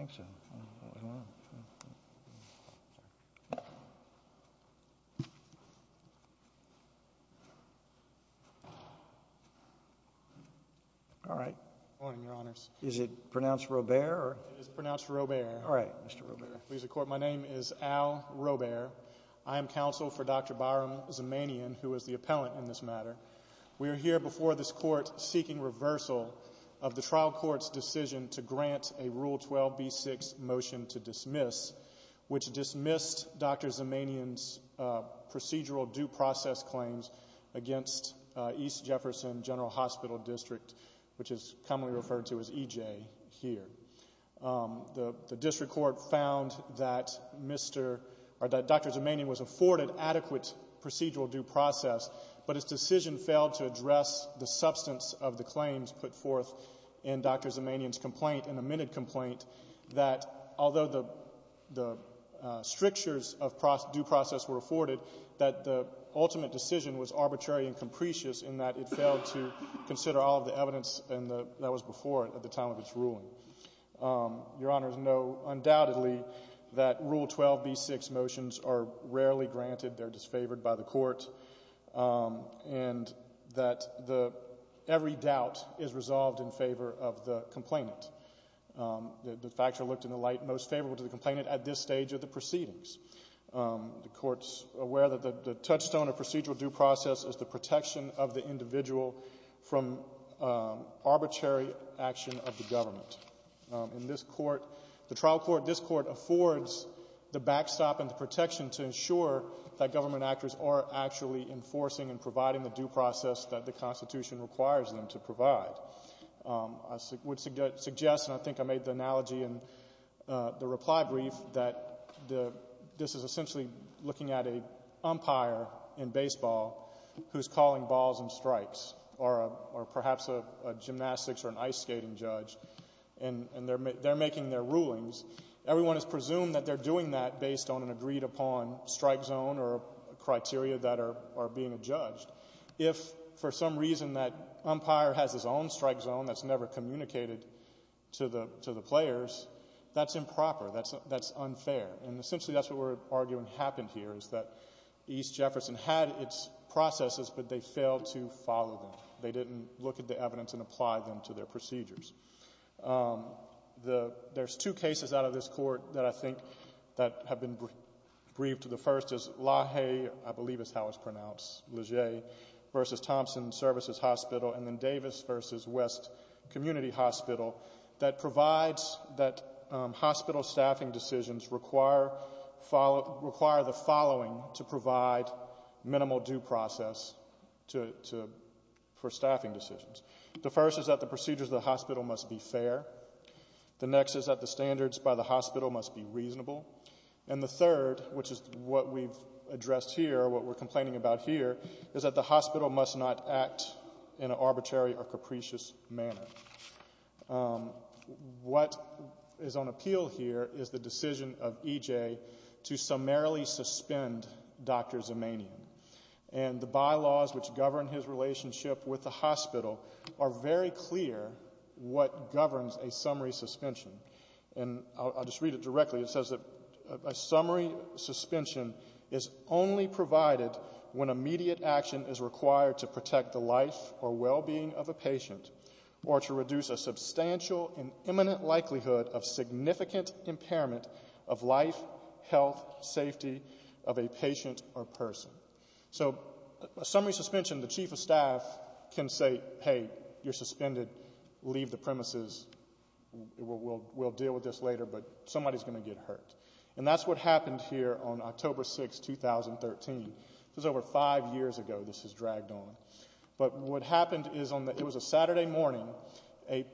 a and all right or honors is it pronounced robert or pronounced robert right we support my name is al robert i'm counsel for doctor barbara is a mania and who is the appellant in this matter we're here before this court seeking reversal of the trial court's decision to grant a rule twelve b six motion to dismiss which dismissed doctors amani and uh... procedural due process claims against uh... east jefferson general hospital district which is commonly referred to as the j uh... the the district court found that mister or that doctors amani was afforded adequate procedural due process but his decision failed to address the substance of the claims put forth in doctors amani's complaint in a minute complaint that although the uh... strictures across due process were afforded that uh... ultimate decision was arbitrary and capricious in that it failed to consider all the evidence and uh... that was before at the time of its rule uh... your honor's no undoubtedly that rule twelve b six motions are rarely granted their disfavored by the court uh... and that the every doubt is resolved in favor of the complainant uh... the factor looked in the light most favorable to the complainant at this stage of the proceedings uh... courts aware that the touchstone of procedural due process is the protection of the individual from uh... arbitrary action of the government uh... in this court the trial court this court affords the backstop and protection to ensure that government actors are actually enforcing and providing the due process that the constitution requires them to provide uh... i would suggest and i think i made the analogy in uh... the reply brief that this is essentially looking at a umpire in baseball who's calling balls and strikes or perhaps a gymnastics or an ice skating judge and they're making their rulings everyone is presumed that they're doing that based on an agreed upon strike zone or criteria that are are being judged if for some reason that umpire has his own strike zone that's never communicated to the to the players that's improper that's that's unfair and essentially that's what we're arguing happened here is that east jefferson had its processes but they failed to follow them they didn't look at the evidence and apply them to their procedures uh... there's two cases out of this court that i think that have been briefed the first is la haye i believe is how it's pronounced versus thompson services hospital and then davis versus west community hospital that provides that uh... hospital staffing decisions require follow require the following to provide minimal due process to to for staffing decisions the first is that the procedures of the hospital must be fair the next is that the standards by the hospital must be reasonable and the third which is what we've addressed here what we're complaining about here is that the hospital must not act in arbitrary or capricious uh... is on appeal here is the decision of each a to some merrily suspend doctors in maine and the bylaws which govern his relationship with the hospital are very clear what governs a summary suspension and i'll just read it directly it says that a summary suspension is only provided when immediate action is required to protect the life or well-being of a patient or to reduce a substantial and imminent likelihood of significant impairment of life health safety of a patient or person a summary suspension the chief of staff can say hey you're suspended leave the premises we'll deal with this later but somebody's gonna get hurt and that's what happened here on october six two thousand thirteen it was over five years ago this has dragged on but what happened is on that it was a saturday morning a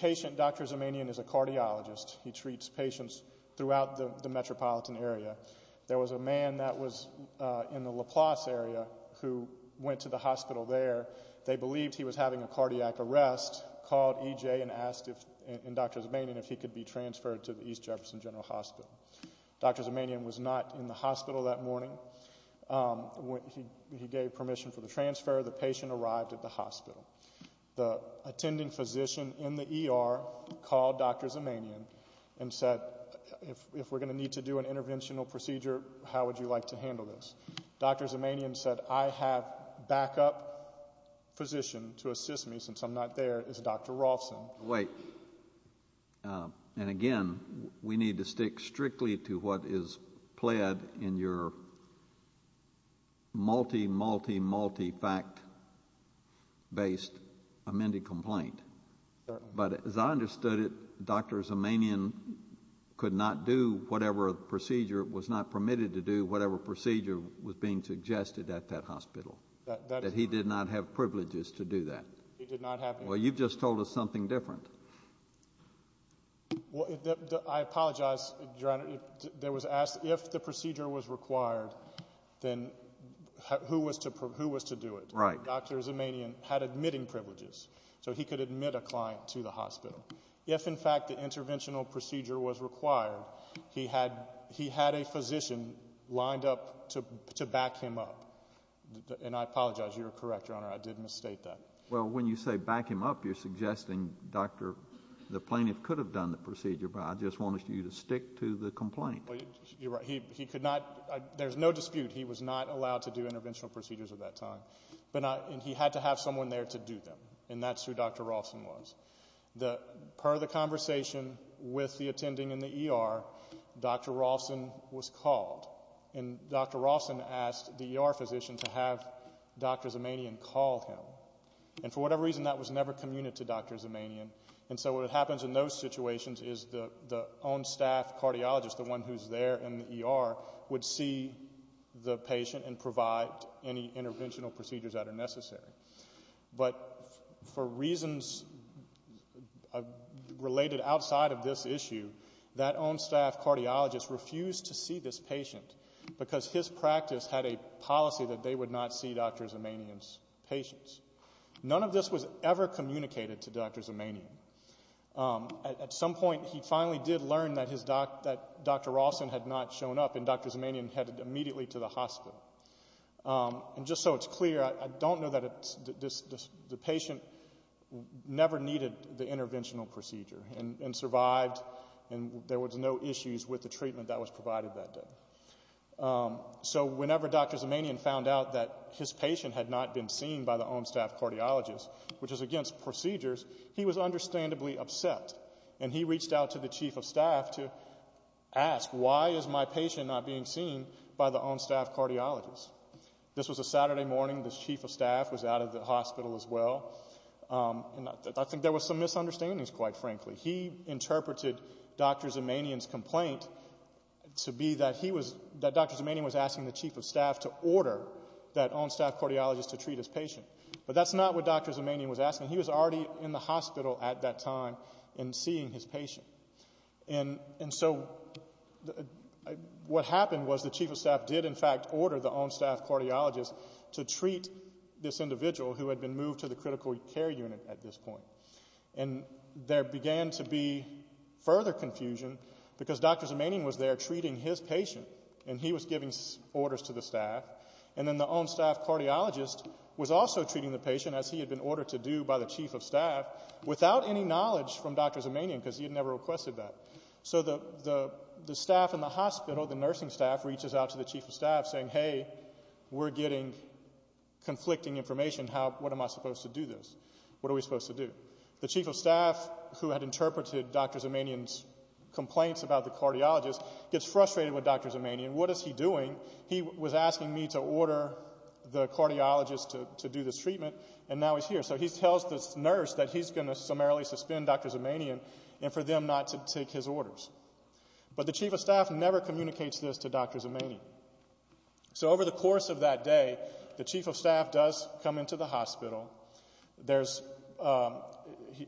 patient doctor zemanian is a cardiologist he treats patients throughout the the metropolitan area there was a man that was uh... in the laplace area went to the hospital there they believed he was having a cardiac arrest called EJ and asked if and doctor zemanian if he could be transferred to the east jefferson general hospital doctor zemanian was not in the hospital that morning uh... he gave permission for the transfer the patient arrived at the hospital the attending physician in the ER called doctor zemanian and said if we're going to need to do an interventional procedure how would you like to handle this doctor zemanian said i have backup physician to assist me since i'm not there is doctor rolfsen and again we need to stick strictly to what is pled in your multi multi multi fact amended complaint but as i understood it doctor zemanian could not do whatever procedure was not permitted to do whatever procedure was being suggested at that hospital that he did not have privileges to do that he did not have well you've just told us something different well uh... i apologize there was asked if the procedure was required who was to who was to do it right doctor zemanian had admitting privileges so he could admit a client to the hospital if in fact the interventional procedure was required he had a physician lined up to to back him up and i apologize you're correct your honor i did misstate that well when you say back him up you're suggesting doctor the plaintiff could have done the procedure but i just want you to stick to the complaint you're right he could not there's no dispute he was not allowed to do interventional procedures at that time and he had to have someone there to do them and that's who doctor rolfsen was per the conversation with the attending in the ER doctor rolfsen was called and doctor rolfsen asked the ER physician to have doctor zemanian call him and for whatever reason that was never communicated to doctor zemanian and so what happens in those situations is the the own staff cardiologist the one who's there in the ER would see the patient and provide any interventional procedures that are necessary for reasons related outside of this issue that own staff cardiologist refused to see this patient because his practice had a policy that they would not see doctor zemanian's patients none of this was ever communicated to doctor zemanian uh... at some point he finally did learn that his doctor that doctor rolfsen had not shown up and doctor zemanian headed immediately to the hospital uh... and just so it's clear i don't know that it's the patient never needed the interventional procedure and and survived and there was no issues with the treatment that was provided that day uh... so whenever doctor zemanian found out that his patient had not been seen by the own staff cardiologist which is against procedures he was understandably upset and he reached out to the chief of staff to ask why is my patient not being seen by the own staff cardiologist this was a saturday morning the chief of staff was out of the hospital as well uh... and i think there was some misunderstandings quite frankly he interpreted doctor zemanian's complaint to be that he was that doctor zemanian was asking the chief of staff to order that own staff cardiologist to treat his patient but that's not what doctor zemanian was asking he was already in the hospital at that time in seeing his patient and and so uh... what happened was the chief of staff did in fact order the own staff cardiologist to treat this individual who had been moved to the critical care unit at this point there began to be further confusion because doctor zemanian was there treating his patient and he was giving orders to the staff and then the own staff cardiologist was also treating the patient as he had been ordered to do by the chief of staff without any knowledge from doctor zemanian because he had never requested that so the the the staff in the hospital the nursing staff reaches out to the chief of staff saying hey we're getting conflicting information how what am i supposed to do this what are we supposed to do the chief of staff who had interpreted doctor zemanian's complaints about the cardiologist gets frustrated with doctor zemanian what is he doing he was asking me to order the cardiologist to to do this treatment and now he's here so he tells this nurse that he's going to summarily suspend doctor zemanian and for them not to take his orders but the chief of staff never communicates this to doctor zemanian so over the course of that day the chief of staff does come into the hospital there's uh...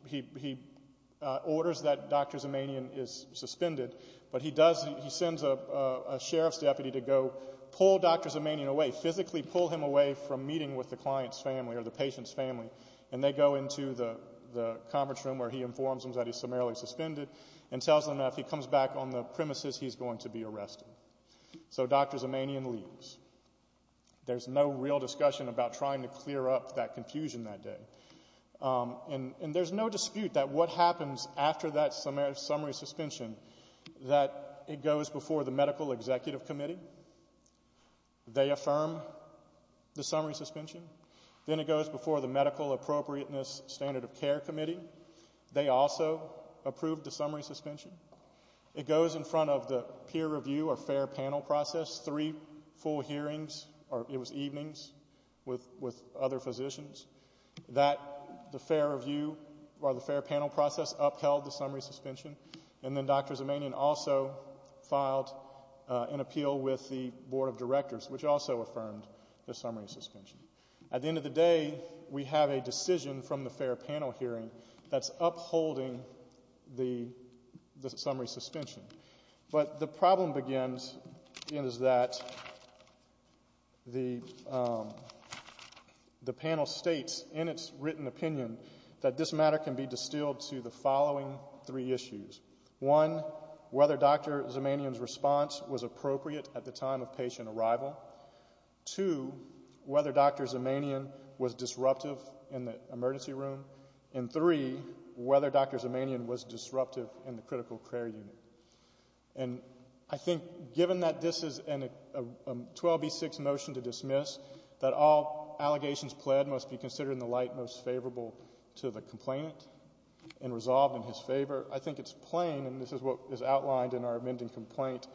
he orders that doctor zemanian is suspended but he does he sends a sheriff's deputy to go pull doctor zemanian away physically pull him away from meeting with the client's family or the patient's family and they go into the conference room where he informs them that he's summarily suspended and tells them that if he comes back on the premises he's going to be arrested so doctor zemanian leaves there's no real discussion about trying to clear up that confusion that day uh... and and there's no dispute that what happens after that summary suspension that it goes before the medical executive committee they affirm the summary suspension then it goes before the medical appropriateness standard of care committee they also approved the summary suspension it goes in front of the peer review or fair panel process three full hearings or it was evenings with with other physicians the fair review or the fair panel process upheld the summary suspension and then doctor zemanian also filed uh... an appeal with the board of directors which also affirmed the summary suspension at the end of the day we have a decision from the fair panel hearing that's upholding the summary suspension but the problem begins is that the uh... the panel states in its written opinion that this matter can be distilled to the following three issues one, whether doctor zemanian's response was appropriate at the time of patient arrival two, whether doctor zemanian was disruptive in the emergency room and three, whether doctor zemanian was disruptive in the critical care unit i think given that this is a 12b6 motion to dismiss that all allegations pled must be considered in the light most favorable to the complainant and resolved in his favor i think it's plain and this is what is outlined in our amending complaint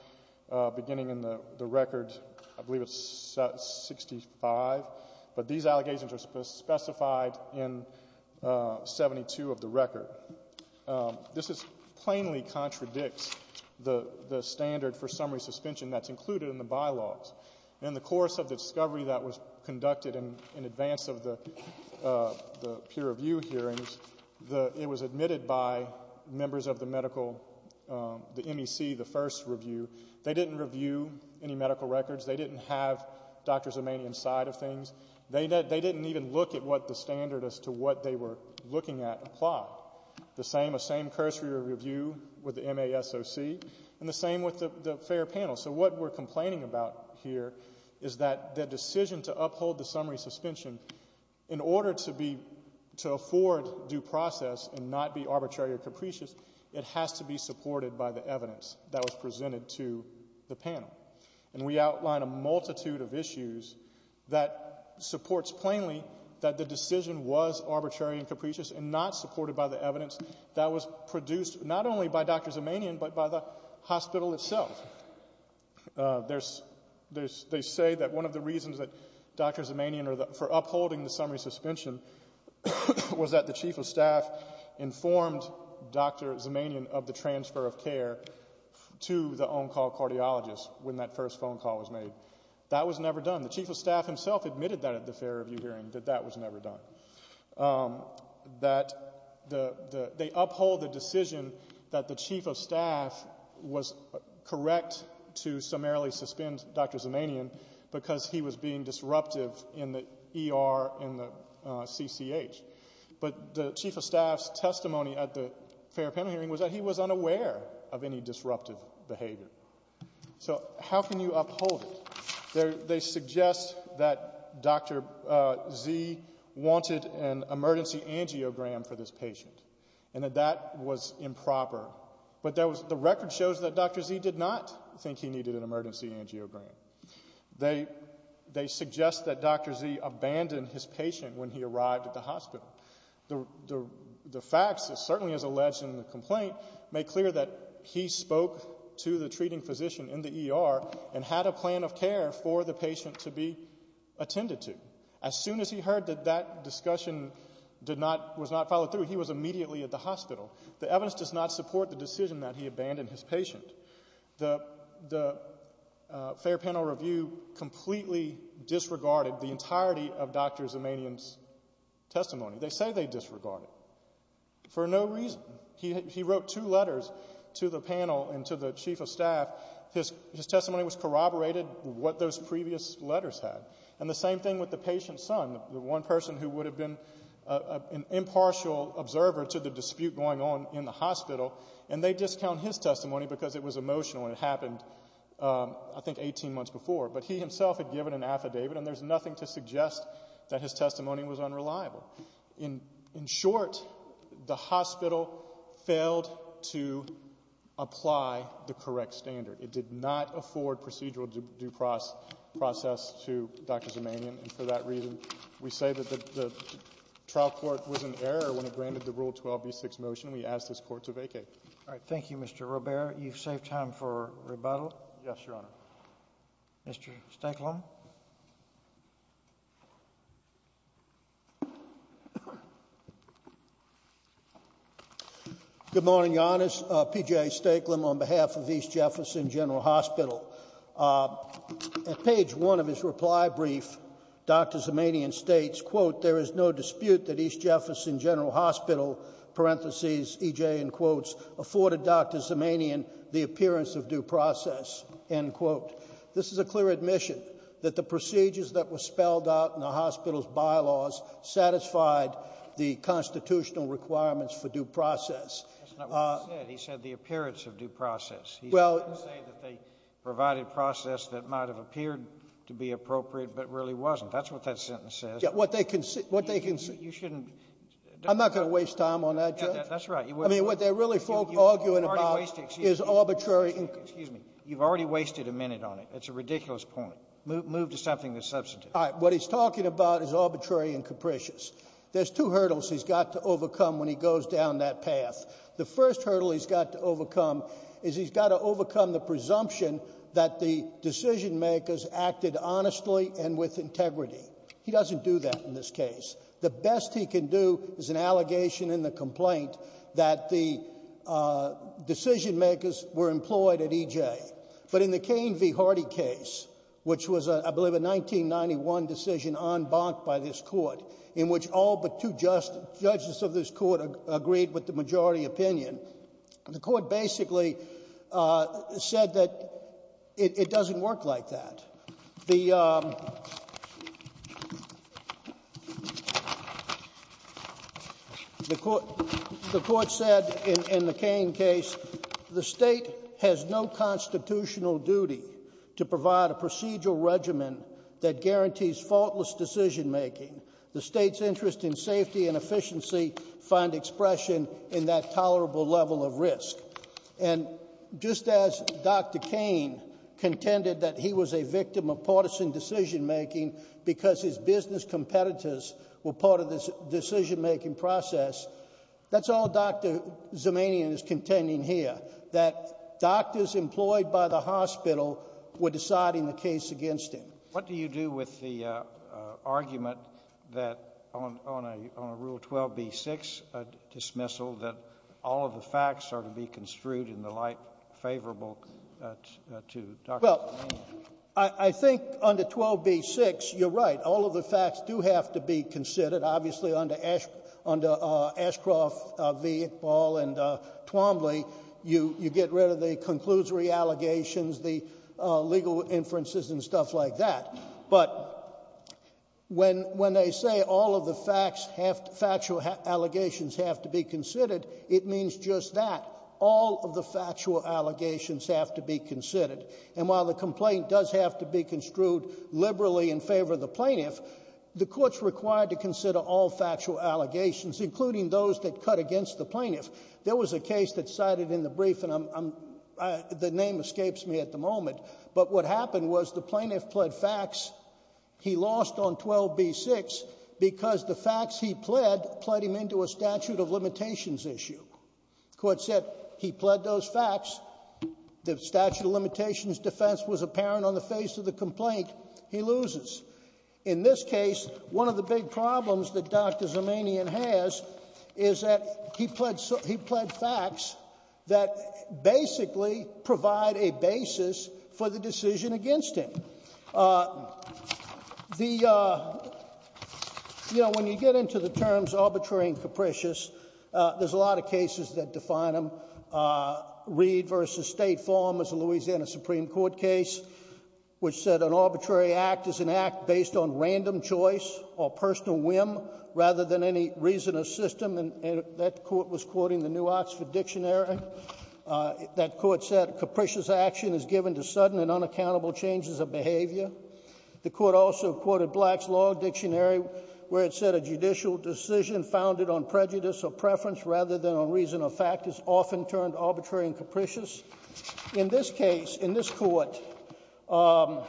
uh... beginning in the record i believe it's uh... sixty five but these allegations are specified in uh... seventy two of the record uh... this is plainly contradicts the the standard for summary suspension that's included in the bylaws in the course of the discovery that was conducted in in advance of the uh... the peer review hearings the it was admitted by members of the medical uh... the nbc the first review they didn't review any medical records they didn't have doctor zemanian's side of things they that they didn't even look at what the standard as to what they were looking at the plot the same the same cursory review with the MASOC and the same with the fair panel so what we're complaining about here is that the decision to uphold the summary suspension in order to be to afford due process and not be arbitrary or capricious it has to be supported by the evidence that was presented to the panel and we outline a multitude of issues supports plainly that the decision was arbitrary and capricious and not supported by the evidence that was produced not only by doctor zemanian but by the hospital itself uh... there's there's they say that one of the reasons that doctor zemanian for upholding the summary suspension was that the chief of staff informed doctor zemanian of the transfer of care to the on-call cardiologist when that first phone call was made that was never done the chief of staff himself admitted that at the fair review hearing that that was never done uh... that the the they uphold the decision that the chief of staff was correct to summarily suspend doctor zemanian because he was being disruptive in the ER and the uh... CCH but the chief of staff's testimony at the fair panel hearing was that he was unaware of any disruptive behavior so how can you uphold it they suggest that doctor uh... z wanted an emergency angiogram for this patient and that that was improper but that was the record shows that doctor z did not think he needed an emergency angiogram they they suggest that doctor z abandoned his patient when he arrived at the hospital the the the facts is certainly as alleged in the complaint make clear that he spoke to the treating physician in the ER and had a plan of care for the patient to be attended to as soon as he heard that that discussion did not was not followed through he was immediately at the hospital the evidence does not support the decision that he abandoned his patient the uh... fair panel review completely disregarded the entirety of doctor zemanian's testimony they say they disregarded for no reason he had he wrote two letters to the panel and to the chief of staff his testimony was corroborated what those previous letters had and the same thing with the patient's son the one person who would have been uh... impartial observer to the dispute going on in the hospital and they discount his testimony because it was emotional and it happened uh... i think eighteen months before but he himself had given an affidavit and there's nothing to suggest that his testimony was unreliable in short the hospital failed to apply the correct standard it did not afford procedural due process process to doctor zemanian and for that reason we say that the trial court was in error when it granted the rule twelve b six motion we asked this court to vacate thank you mister robert you've saved time for rebuttal yes your honor good morning your honors pj stakelum on behalf of east jefferson general hospital uh... at page one of his reply brief doctor zemanian states quote there is no dispute that east jefferson general hospital parentheses e.j. in quotes afforded doctor zemanian the appearance of due process end quote this is a clear admission that the procedures that were spelled out in the hospital's bylaws satisfied the constitutional requirements for due process that's not what he said he said the appearance of due process he didn't say that they provided process that might have appeared to be appropriate but really wasn't that's what that sentence says yeah what they can say what they can say you shouldn't i'm not going to waste time on that judge that's right what they're really arguing about is arbitrary excuse me you've already wasted a minute on it it's a ridiculous point move to something that's substantive what he's talking about is arbitrary and capricious there's two hurdles he's got to overcome when he goes down that path the first hurdle he's got to overcome is he's got to overcome the presumption that the decision makers acted honestly and with integrity he doesn't do that in this case the best he can do is an allegation in the complaint that the uh... decision makers were employed at EJ but in the Cain v. Hardy case which was a I believe a nineteen ninety one decision en banc by this court in which all but two judges of this court agreed with the majority opinion the court basically uh... said that it doesn't work like that the uh... the court said in the Cain case the state has no constitutional duty to provide a procedural regimen that guarantees faultless decision-making the state's interest in safety and efficiency find expression in that tolerable level of risk just as Dr. Cain contended that he was a victim of partisan decision-making because his business competitors were part of this decision-making process that's all Dr. Zemanian is contending here that doctors employed by the hospital were deciding the case against him what do you do with the uh... argument that on a rule twelve B six dismissal that all of the facts are to be construed in the light of a favorable uh... to Dr. Zemanian i think under twelve B six you're right all of the facts do have to be considered obviously under under uh... Ashcroft V. Iqbal and uh... Twombly you you get rid of the conclusory allegations the uh... legal inferences and stuff like that but when they say all of the facts have factual allegations have to be considered it means just that all of the factual allegations have to be considered and while the complaint does have to be construed liberally in favor of the plaintiff the court's required to consider all factual allegations including those that cut against the plaintiff there was a case that cited in the brief and I'm uh... the name escapes me at the moment but what happened was the plaintiff pled facts he lost on twelve B six because the facts he pled pled him into a statute of limitations issue court said he pled those facts the statute of limitations defense was apparent on the face of the complaint he loses in this case one of the big problems that Dr. Zemanian has is that he pled facts that basically provide a basis for the decision against him the uh... you know when you get into the terms arbitrary and capricious uh... there's a lot of cases that define him uh... reed versus state farm was a louisiana supreme court case which said an arbitrary act is an act based on random choice or personal whim rather than any reason or system and that court was quoting the new oxford dictionary uh... that court said capricious action is given to sudden and unaccountable changes of behavior the court also quoted black's law dictionary where it said a judicial decision founded on prejudice or preference rather than on reason or fact is often turned arbitrary and capricious in this case in this court uh...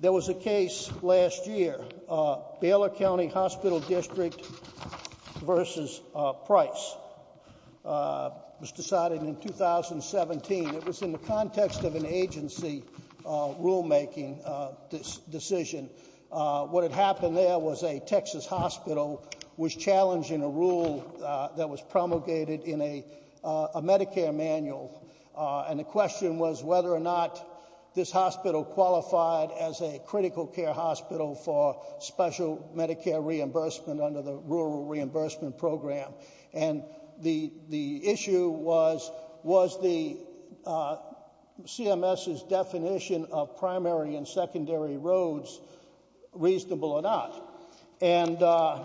there was a case last year uh... baylor county hospital district versus uh... price uh... was decided in two thousand seventeen it was in the context of an agency uh... rulemaking uh... this decision uh... what happened there was a texas hospital was challenging a rule uh... that was promulgated in a uh... a medicare manual uh... and the question was whether or not this hospital qualified as a critical care hospital for special medicare reimbursement under the rural reimbursement program the the issue was was the CMS's definition of primary and secondary roads reasonable or not and uh...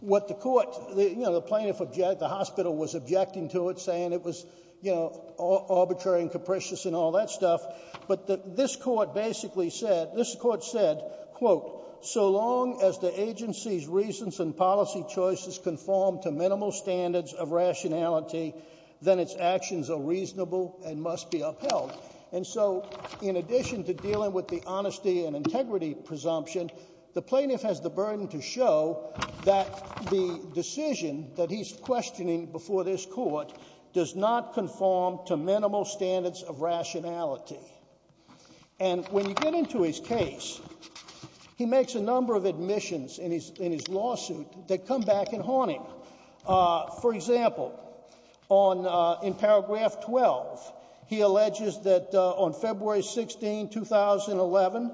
what the court you know the plaintiff objected the hospital was objecting to it saying it was you know arbitrary and capricious and all that stuff but this court basically said this court said quote so long as the agency's reasons and policy choices conform to minimal standards of rationality then its actions are reasonable and must be upheld and so in addition to dealing with the honesty and integrity presumption the plaintiff has the burden to show that the decision that he's questioning before this court does not conform to minimal standards of rationality and when you get into his case he makes a number of admissions in his lawsuit that come back and haunt him uh... for example on uh... in paragraph twelve he alleges that uh... on february sixteen two thousand eleven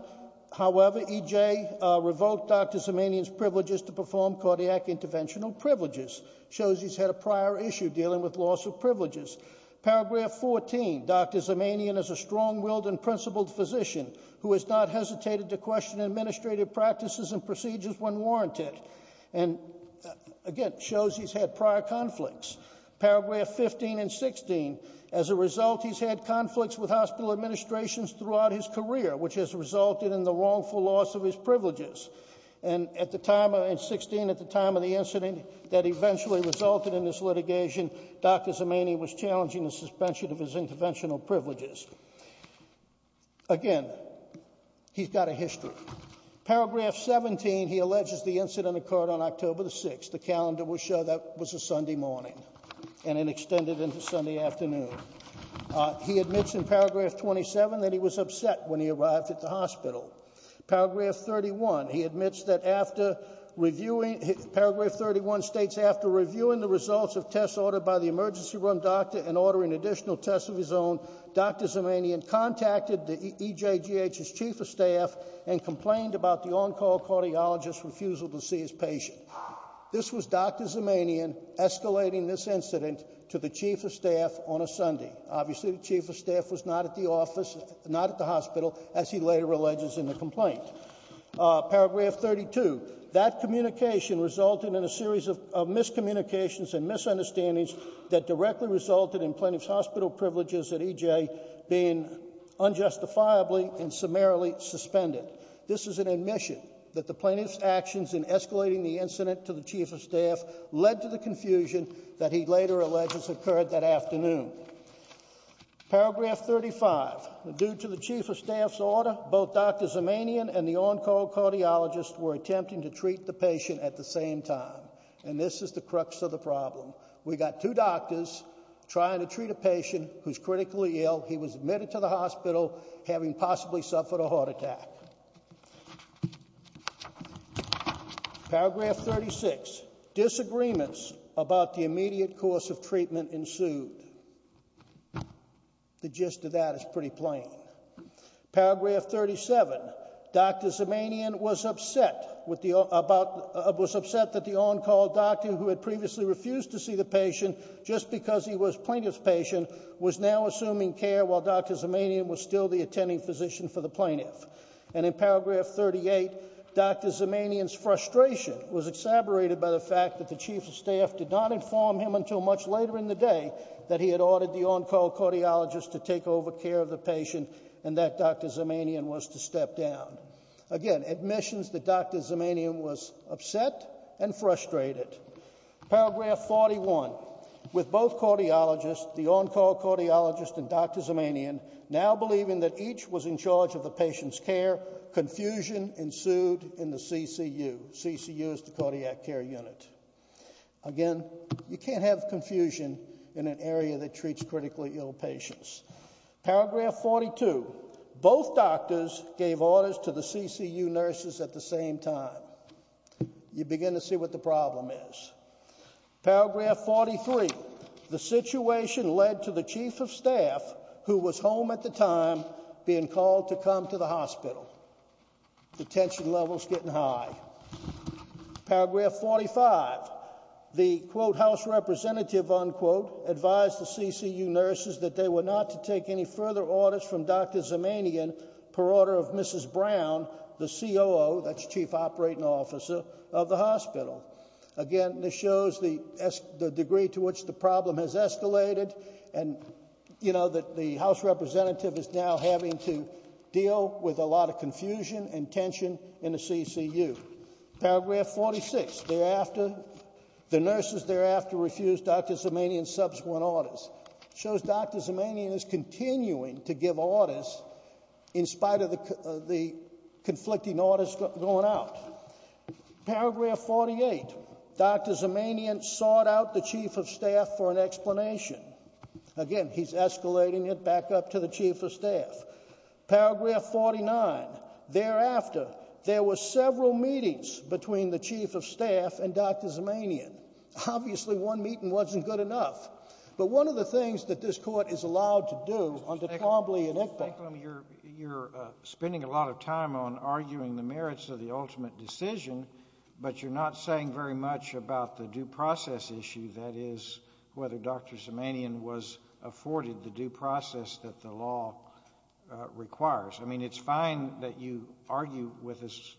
however E.J. revoked Dr. Zemanian's privileges to perform cardiac interventional privileges shows he's had a prior issue dealing with loss of privileges paragraph fourteen Dr. Zemanian is a strong-willed and principled physician who has not hesitated to question administrative practices and procedures when warranted and again shows he's had prior conflicts paragraph fifteen and sixteen as a result he's had conflicts with hospital administrations throughout his career which has resulted in the wrongful loss of his privileges and at the time at sixteen at the time of the incident that eventually resulted in this litigation Dr. Zemanian was challenging the suspension of his interventional privileges again he's got a history paragraph seventeen he alleges the incident occurred on october the sixth the calendar will show that was a sunday morning and it extended into sunday afternoon uh... he admits in paragraph twenty seven that he was upset when he arrived at the hospital paragraph thirty one he admits that after reviewing paragraph thirty one states after reviewing the results of tests ordered by the emergency room doctor and ordering additional tests of his own Dr. Zemanian contacted the E.J.G.H.'s chief of staff and complained about the on-call cardiologist's refusal to see his patient this was Dr. Zemanian escalating this incident to the chief of staff on a sunday obviously the chief of staff was not at the office not at the hospital as he later alleges in the complaint uh... paragraph thirty two that communication resulted in a series of miscommunications and misunderstandings that directly resulted in Plenty's hospital privileges at E.J. being unjustifiably and summarily suspended this is an admission that the Plenty's actions in escalating the incident to the chief of staff led to the confusion that he later alleges occurred that afternoon paragraph thirty five due to the chief of staff's order both Dr. Zemanian and the on-call cardiologist were attempting to treat the patient at the same time and this is the crux of the problem we got two doctors trying to treat a patient who's critically ill he was admitted to the hospital having possibly suffered a heart attack paragraph thirty six disagreements about the immediate course of treatment ensued the gist of that is pretty plain paragraph thirty seven Dr. Zemanian was upset with the uh... about uh... was upset that the on-call doctor who had previously refused to see the patient just because he was Plenty's patient was now assuming care while Dr. Zemanian was still the attending physician for the plaintiff and in paragraph thirty eight Dr. Zemanian's frustration was exasperated by the fact that the chief of staff did not inform him until much later in the day that he had ordered the on-call cardiologist to take over care of the patient and that Dr. Zemanian was to step down again admissions that Dr. Zemanian was upset and frustrated paragraph forty one with both cardiologists the on-call cardiologist and Dr. Zemanian now believing that each was in charge of the patient's care confusion ensued in the ccu ccu is the cardiac care unit again you can't have confusion in an area that treats critically ill patients paragraph forty two both doctors gave orders to the ccu nurses at the same time you begin to see what the problem is paragraph forty three the situation led to the chief of staff who was home at the time being called to come to the hospital the tension levels getting high paragraph forty five the quote house representative unquote advised the ccu nurses that they were not to take any further orders from Dr. Zemanian per order of Mrs. Brown the COO, that's chief operating officer of the hospital again this shows the the degree to which the problem has escalated you know that the house representative is now having to deal with a lot of confusion and tension in the ccu paragraph forty six the nurses thereafter refused Dr. Zemanian's subsequent orders shows Dr. Zemanian is continuing to give orders in spite of the conflicting orders going out paragraph forty eight Dr. Zemanian sought out the chief of staff for an explanation again he's escalating it back up to the chief of staff paragraph forty nine thereafter there were several meetings between the chief of staff and Dr. Zemanian obviously one meeting wasn't good enough but one of the things that this court is allowed to do on the Trombley and Incline you're spending a lot of time on arguing the merits of the ultimate decision but you're not saying very much about the due process issue that is whether Dr. Zemanian was afforded the due process that the law requires I mean it's fine that you argue with his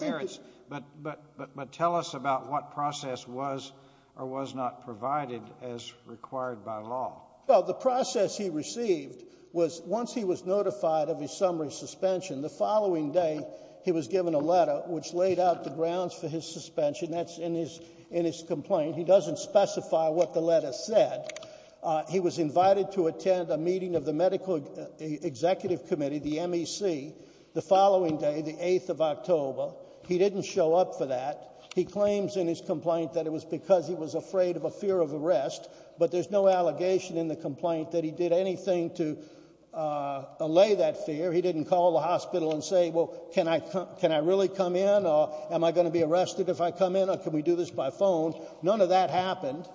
merits but tell us about what process was or was not provided as required by law well the process he received was once he was notified of his summary suspension the following day he was given a letter which laid out the grounds for his suspension that's in his in his complaint he doesn't specify what the letter said uh... he was invited to attend a meeting of the medical executive committee the MEC the following day the eighth of october he didn't show up for that he claims in his complaint that it was because he was afraid of a fear of arrest but there's no allegation in the complaint that he did anything to uh... allay that fear he didn't call the hospital and say well can I come can I really come in or am I going to be arrested if I come in or can we do this by phone none of that happened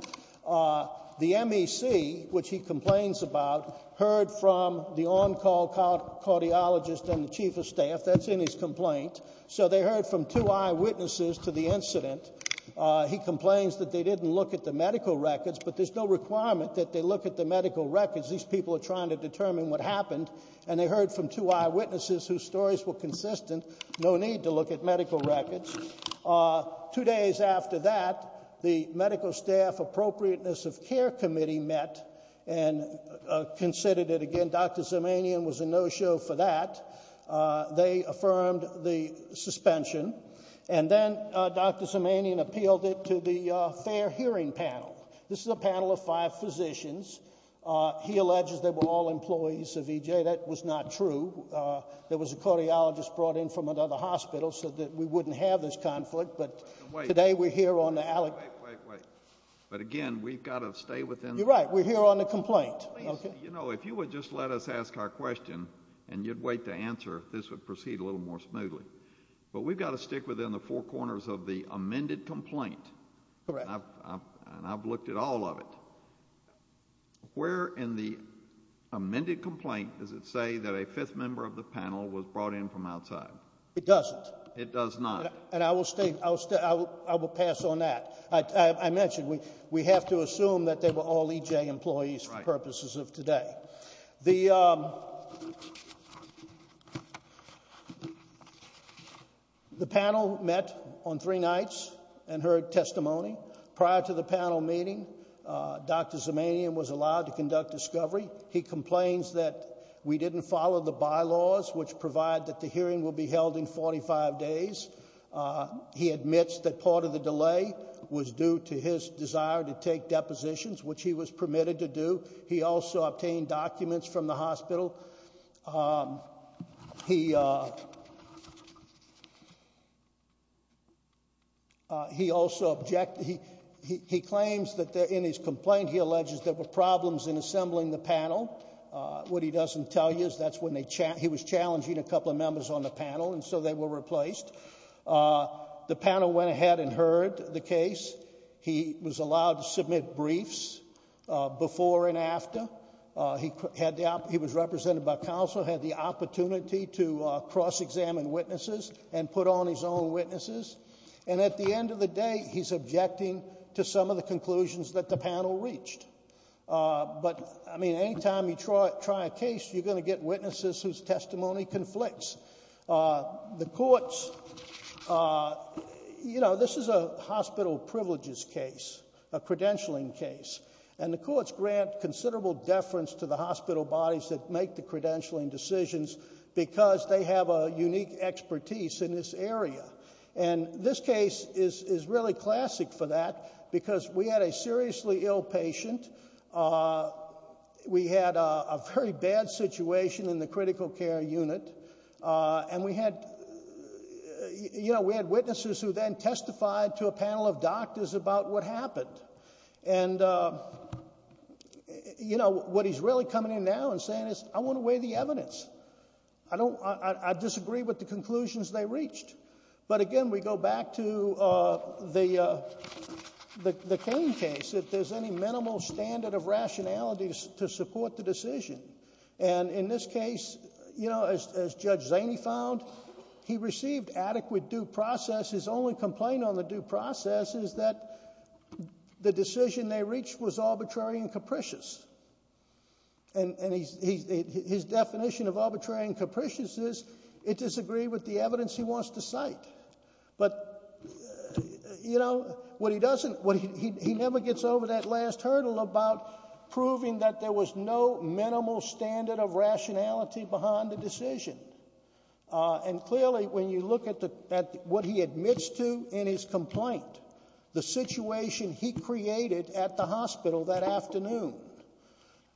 the MEC which he complains about heard from the on-call cardiologist and the chief of staff that's in his complaint so they heard from two eyewitnesses to the incident uh... he complains that they didn't look at the medical records but there's no requirement that they look at the medical records these people are trying to determine what happened and they heard from two eyewitnesses whose stories were consistent no need to look at medical records uh... two days after that the medical staff appropriateness of care committee met and uh... considered it again doctor zemanian was a no-show for that uh... they affirmed the suspension and then uh... doctor zemanian appealed it to the uh... fair hearing panel this is a panel of five physicians uh... he alleges they were all employees of EJ that was not true uh... there was a cardiologist brought in from another hospital so that we wouldn't have this conflict but today we're here on the allegation but again we've got to stay within you're right we're here on the complaint you know if you would just let us ask our question and you'd wait to answer this would proceed a little more smoothly but we've got to stick within the four corners of the amended complaint correct and I've looked at all of it where in the amended complaint does it say that a fifth member of the panel was brought in from outside it doesn't it does not and I will stay I will pass on that I mentioned we we have to assume that they were all EJ employees for purposes of today the uh... the panel met on three nights and heard testimony prior to the panel meeting uh... doctor zemanian was allowed to conduct discovery he complains that we didn't follow the bylaws which provide that the hearing will be held in forty five days uh... he admits that part of the delay was due to his desire to take depositions which he was permitted to do he also obtained documents from the hospital uh... he uh... uh... he also objected he claims that in his complaint he alleges there were problems in assembling the panel uh... what he doesn't tell you is that's when he was challenging a couple members on the panel and so they were replaced uh... the panel went ahead and heard the case he was allowed to submit briefs uh... before and after uh... he was represented by counsel had the opportunity to cross examine witnesses and put on his own witnesses and at the end of the day he's objecting to some of the conclusions that the panel reached uh... but i mean anytime you try a case you're going to get witnesses whose testimony conflicts uh... the courts uh... you know this is a hospital privileges case a credentialing case and the courts grant considerable deference to the hospital bodies that make the credentialing decisions because they have a unique expertise in this area and this case is is really classic for that because we had a seriously ill patient uh... we had uh... a very bad situation in the critical care unit uh... and we had you know we had witnesses who then testified to a panel of doctors about what happened and uh... you know what he's really coming in now and saying is I want to weigh the evidence I don't I disagree with the conclusions they reached but again we go back to uh... the uh... the cane case if there's any minimal standard of rationality to support the decision and in this case you know as judge zaney found he received adequate due process his only complaint on the due process is that the decision they reached was arbitrary and capricious and and he's he's he's definition of arbitrary and capricious is it disagree with the evidence he wants to cite you know what he doesn't what he he never gets over that last hurdle about proving that there was no minimal standard of rationality behind the decision uh... and clearly when you look at the at what he admits to in his complaint the situation he created at the hospital that afternoon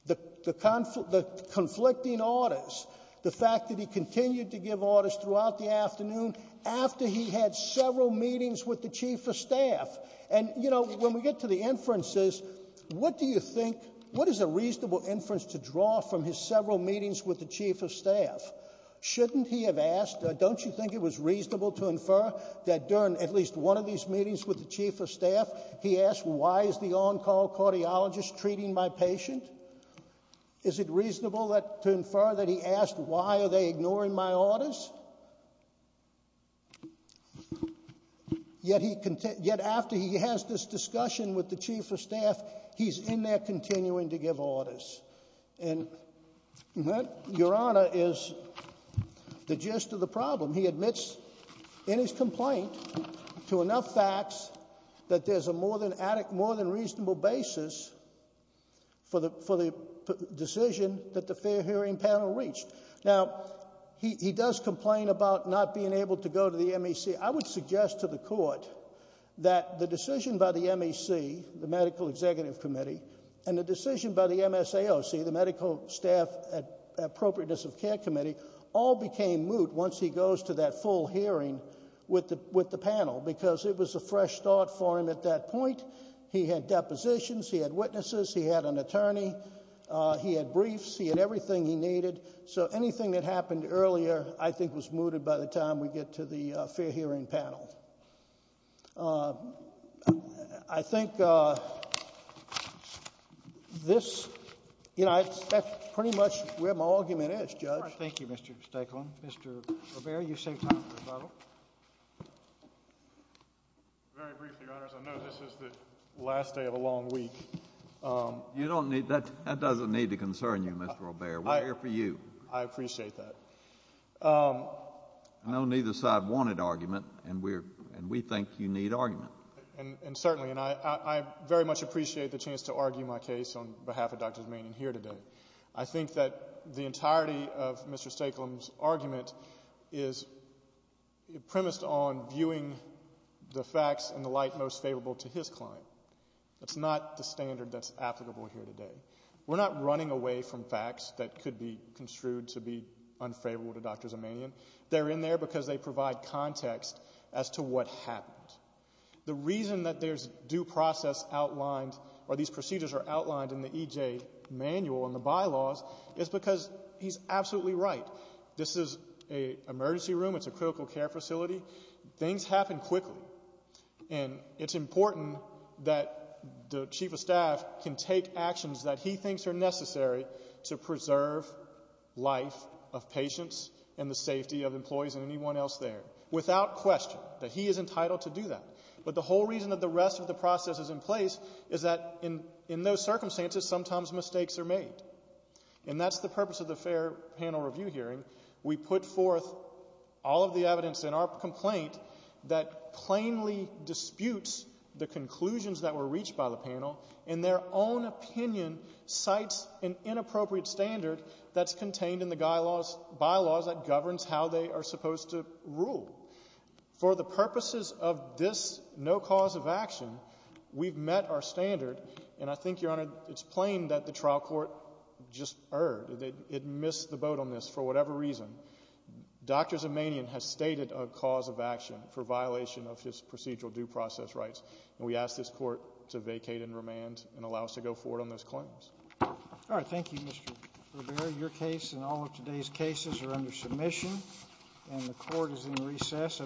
the the conflict the conflicting orders the fact that he continued to give orders throughout the afternoon after he had several meetings with the chief of staff and you know when we get to the inferences what do you think what is a reasonable inference to draw from his several meetings with the chief of staff shouldn't he have asked uh... don't you think it was reasonable to infer that during at least one of these meetings with the chief of staff he asked why is the on-call cardiologist treating my patient is it reasonable that to infer that he asked why are they ignoring my orders yet after he has this discussion with the chief of staff he's in there continuing to give orders and your honor is the gist of the problem he admits in his complaint to enough facts that there's a more than adequate more than reasonable basis for the for the decision that the fair hearing panel reached he he does complain about not being able to go to the MEC I would suggest to the court that the decision by the MEC the medical executive committee and the decision by the MSAOC the medical staff appropriateness of care committee all became moot once he goes to that full hearing with the with the panel because it was a fresh start for him at that point he had depositions he had witnesses he had an attorney uh... he had briefs he had everything he needed so anything that happened earlier i think was mooted by the time we get to the uh... fair hearing panel uh... i think uh... this you know that's pretty much where my argument is judge thank you Mr. Stakelin Mr. Robert you've saved time for the rebuttal very briefly your honors I know this is the last day of a long week uh... you don't need that that doesn't need to concern you Mr. Robert we're here for you I appreciate that uh... I know neither side wanted argument and we think you need argument and certainly and I very much appreciate the chance to argue my case on behalf of Dr. Zemanian here today i think that the entirety of Mr. Stakelin's argument is premised on viewing the facts and the light most favorable to his client it's not the standard that's applicable here today we're not running away from facts that could be construed to be unfavorable to Dr. Zemanian they're in there because they provide context as to what happened the reason that there's due process outlined or these procedures are outlined in the EJ manual in the bylaws is because he's absolutely right this is a emergency room it's a critical care facility things happen quickly it's important that the chief of staff can take actions that he thinks are necessary to preserve life of patients and the safety of employees and anyone else there without question that he is entitled to do that but the whole reason that the rest of the process is in place is that in in those circumstances sometimes mistakes are made and that's the purpose of the fair panel review hearing we put forth all of the evidence in our complaint that plainly disputes the conclusions that were reached by the panel and their own opinion cites an inappropriate standard that's contained in the bylaws that governs how they are supposed to rule for the purposes of this no cause of action we've met our standard and I think your honor it's plain that the trial court just erred it missed the boat on this for whatever reason Dr. Zemanian has stated a cause of action for violation of his procedural due process rights we ask this court to vacate and remand and allow us to go forward on this claim all right thank you Mr. Rivera your case and all of today's cases are under submission and the court is in recess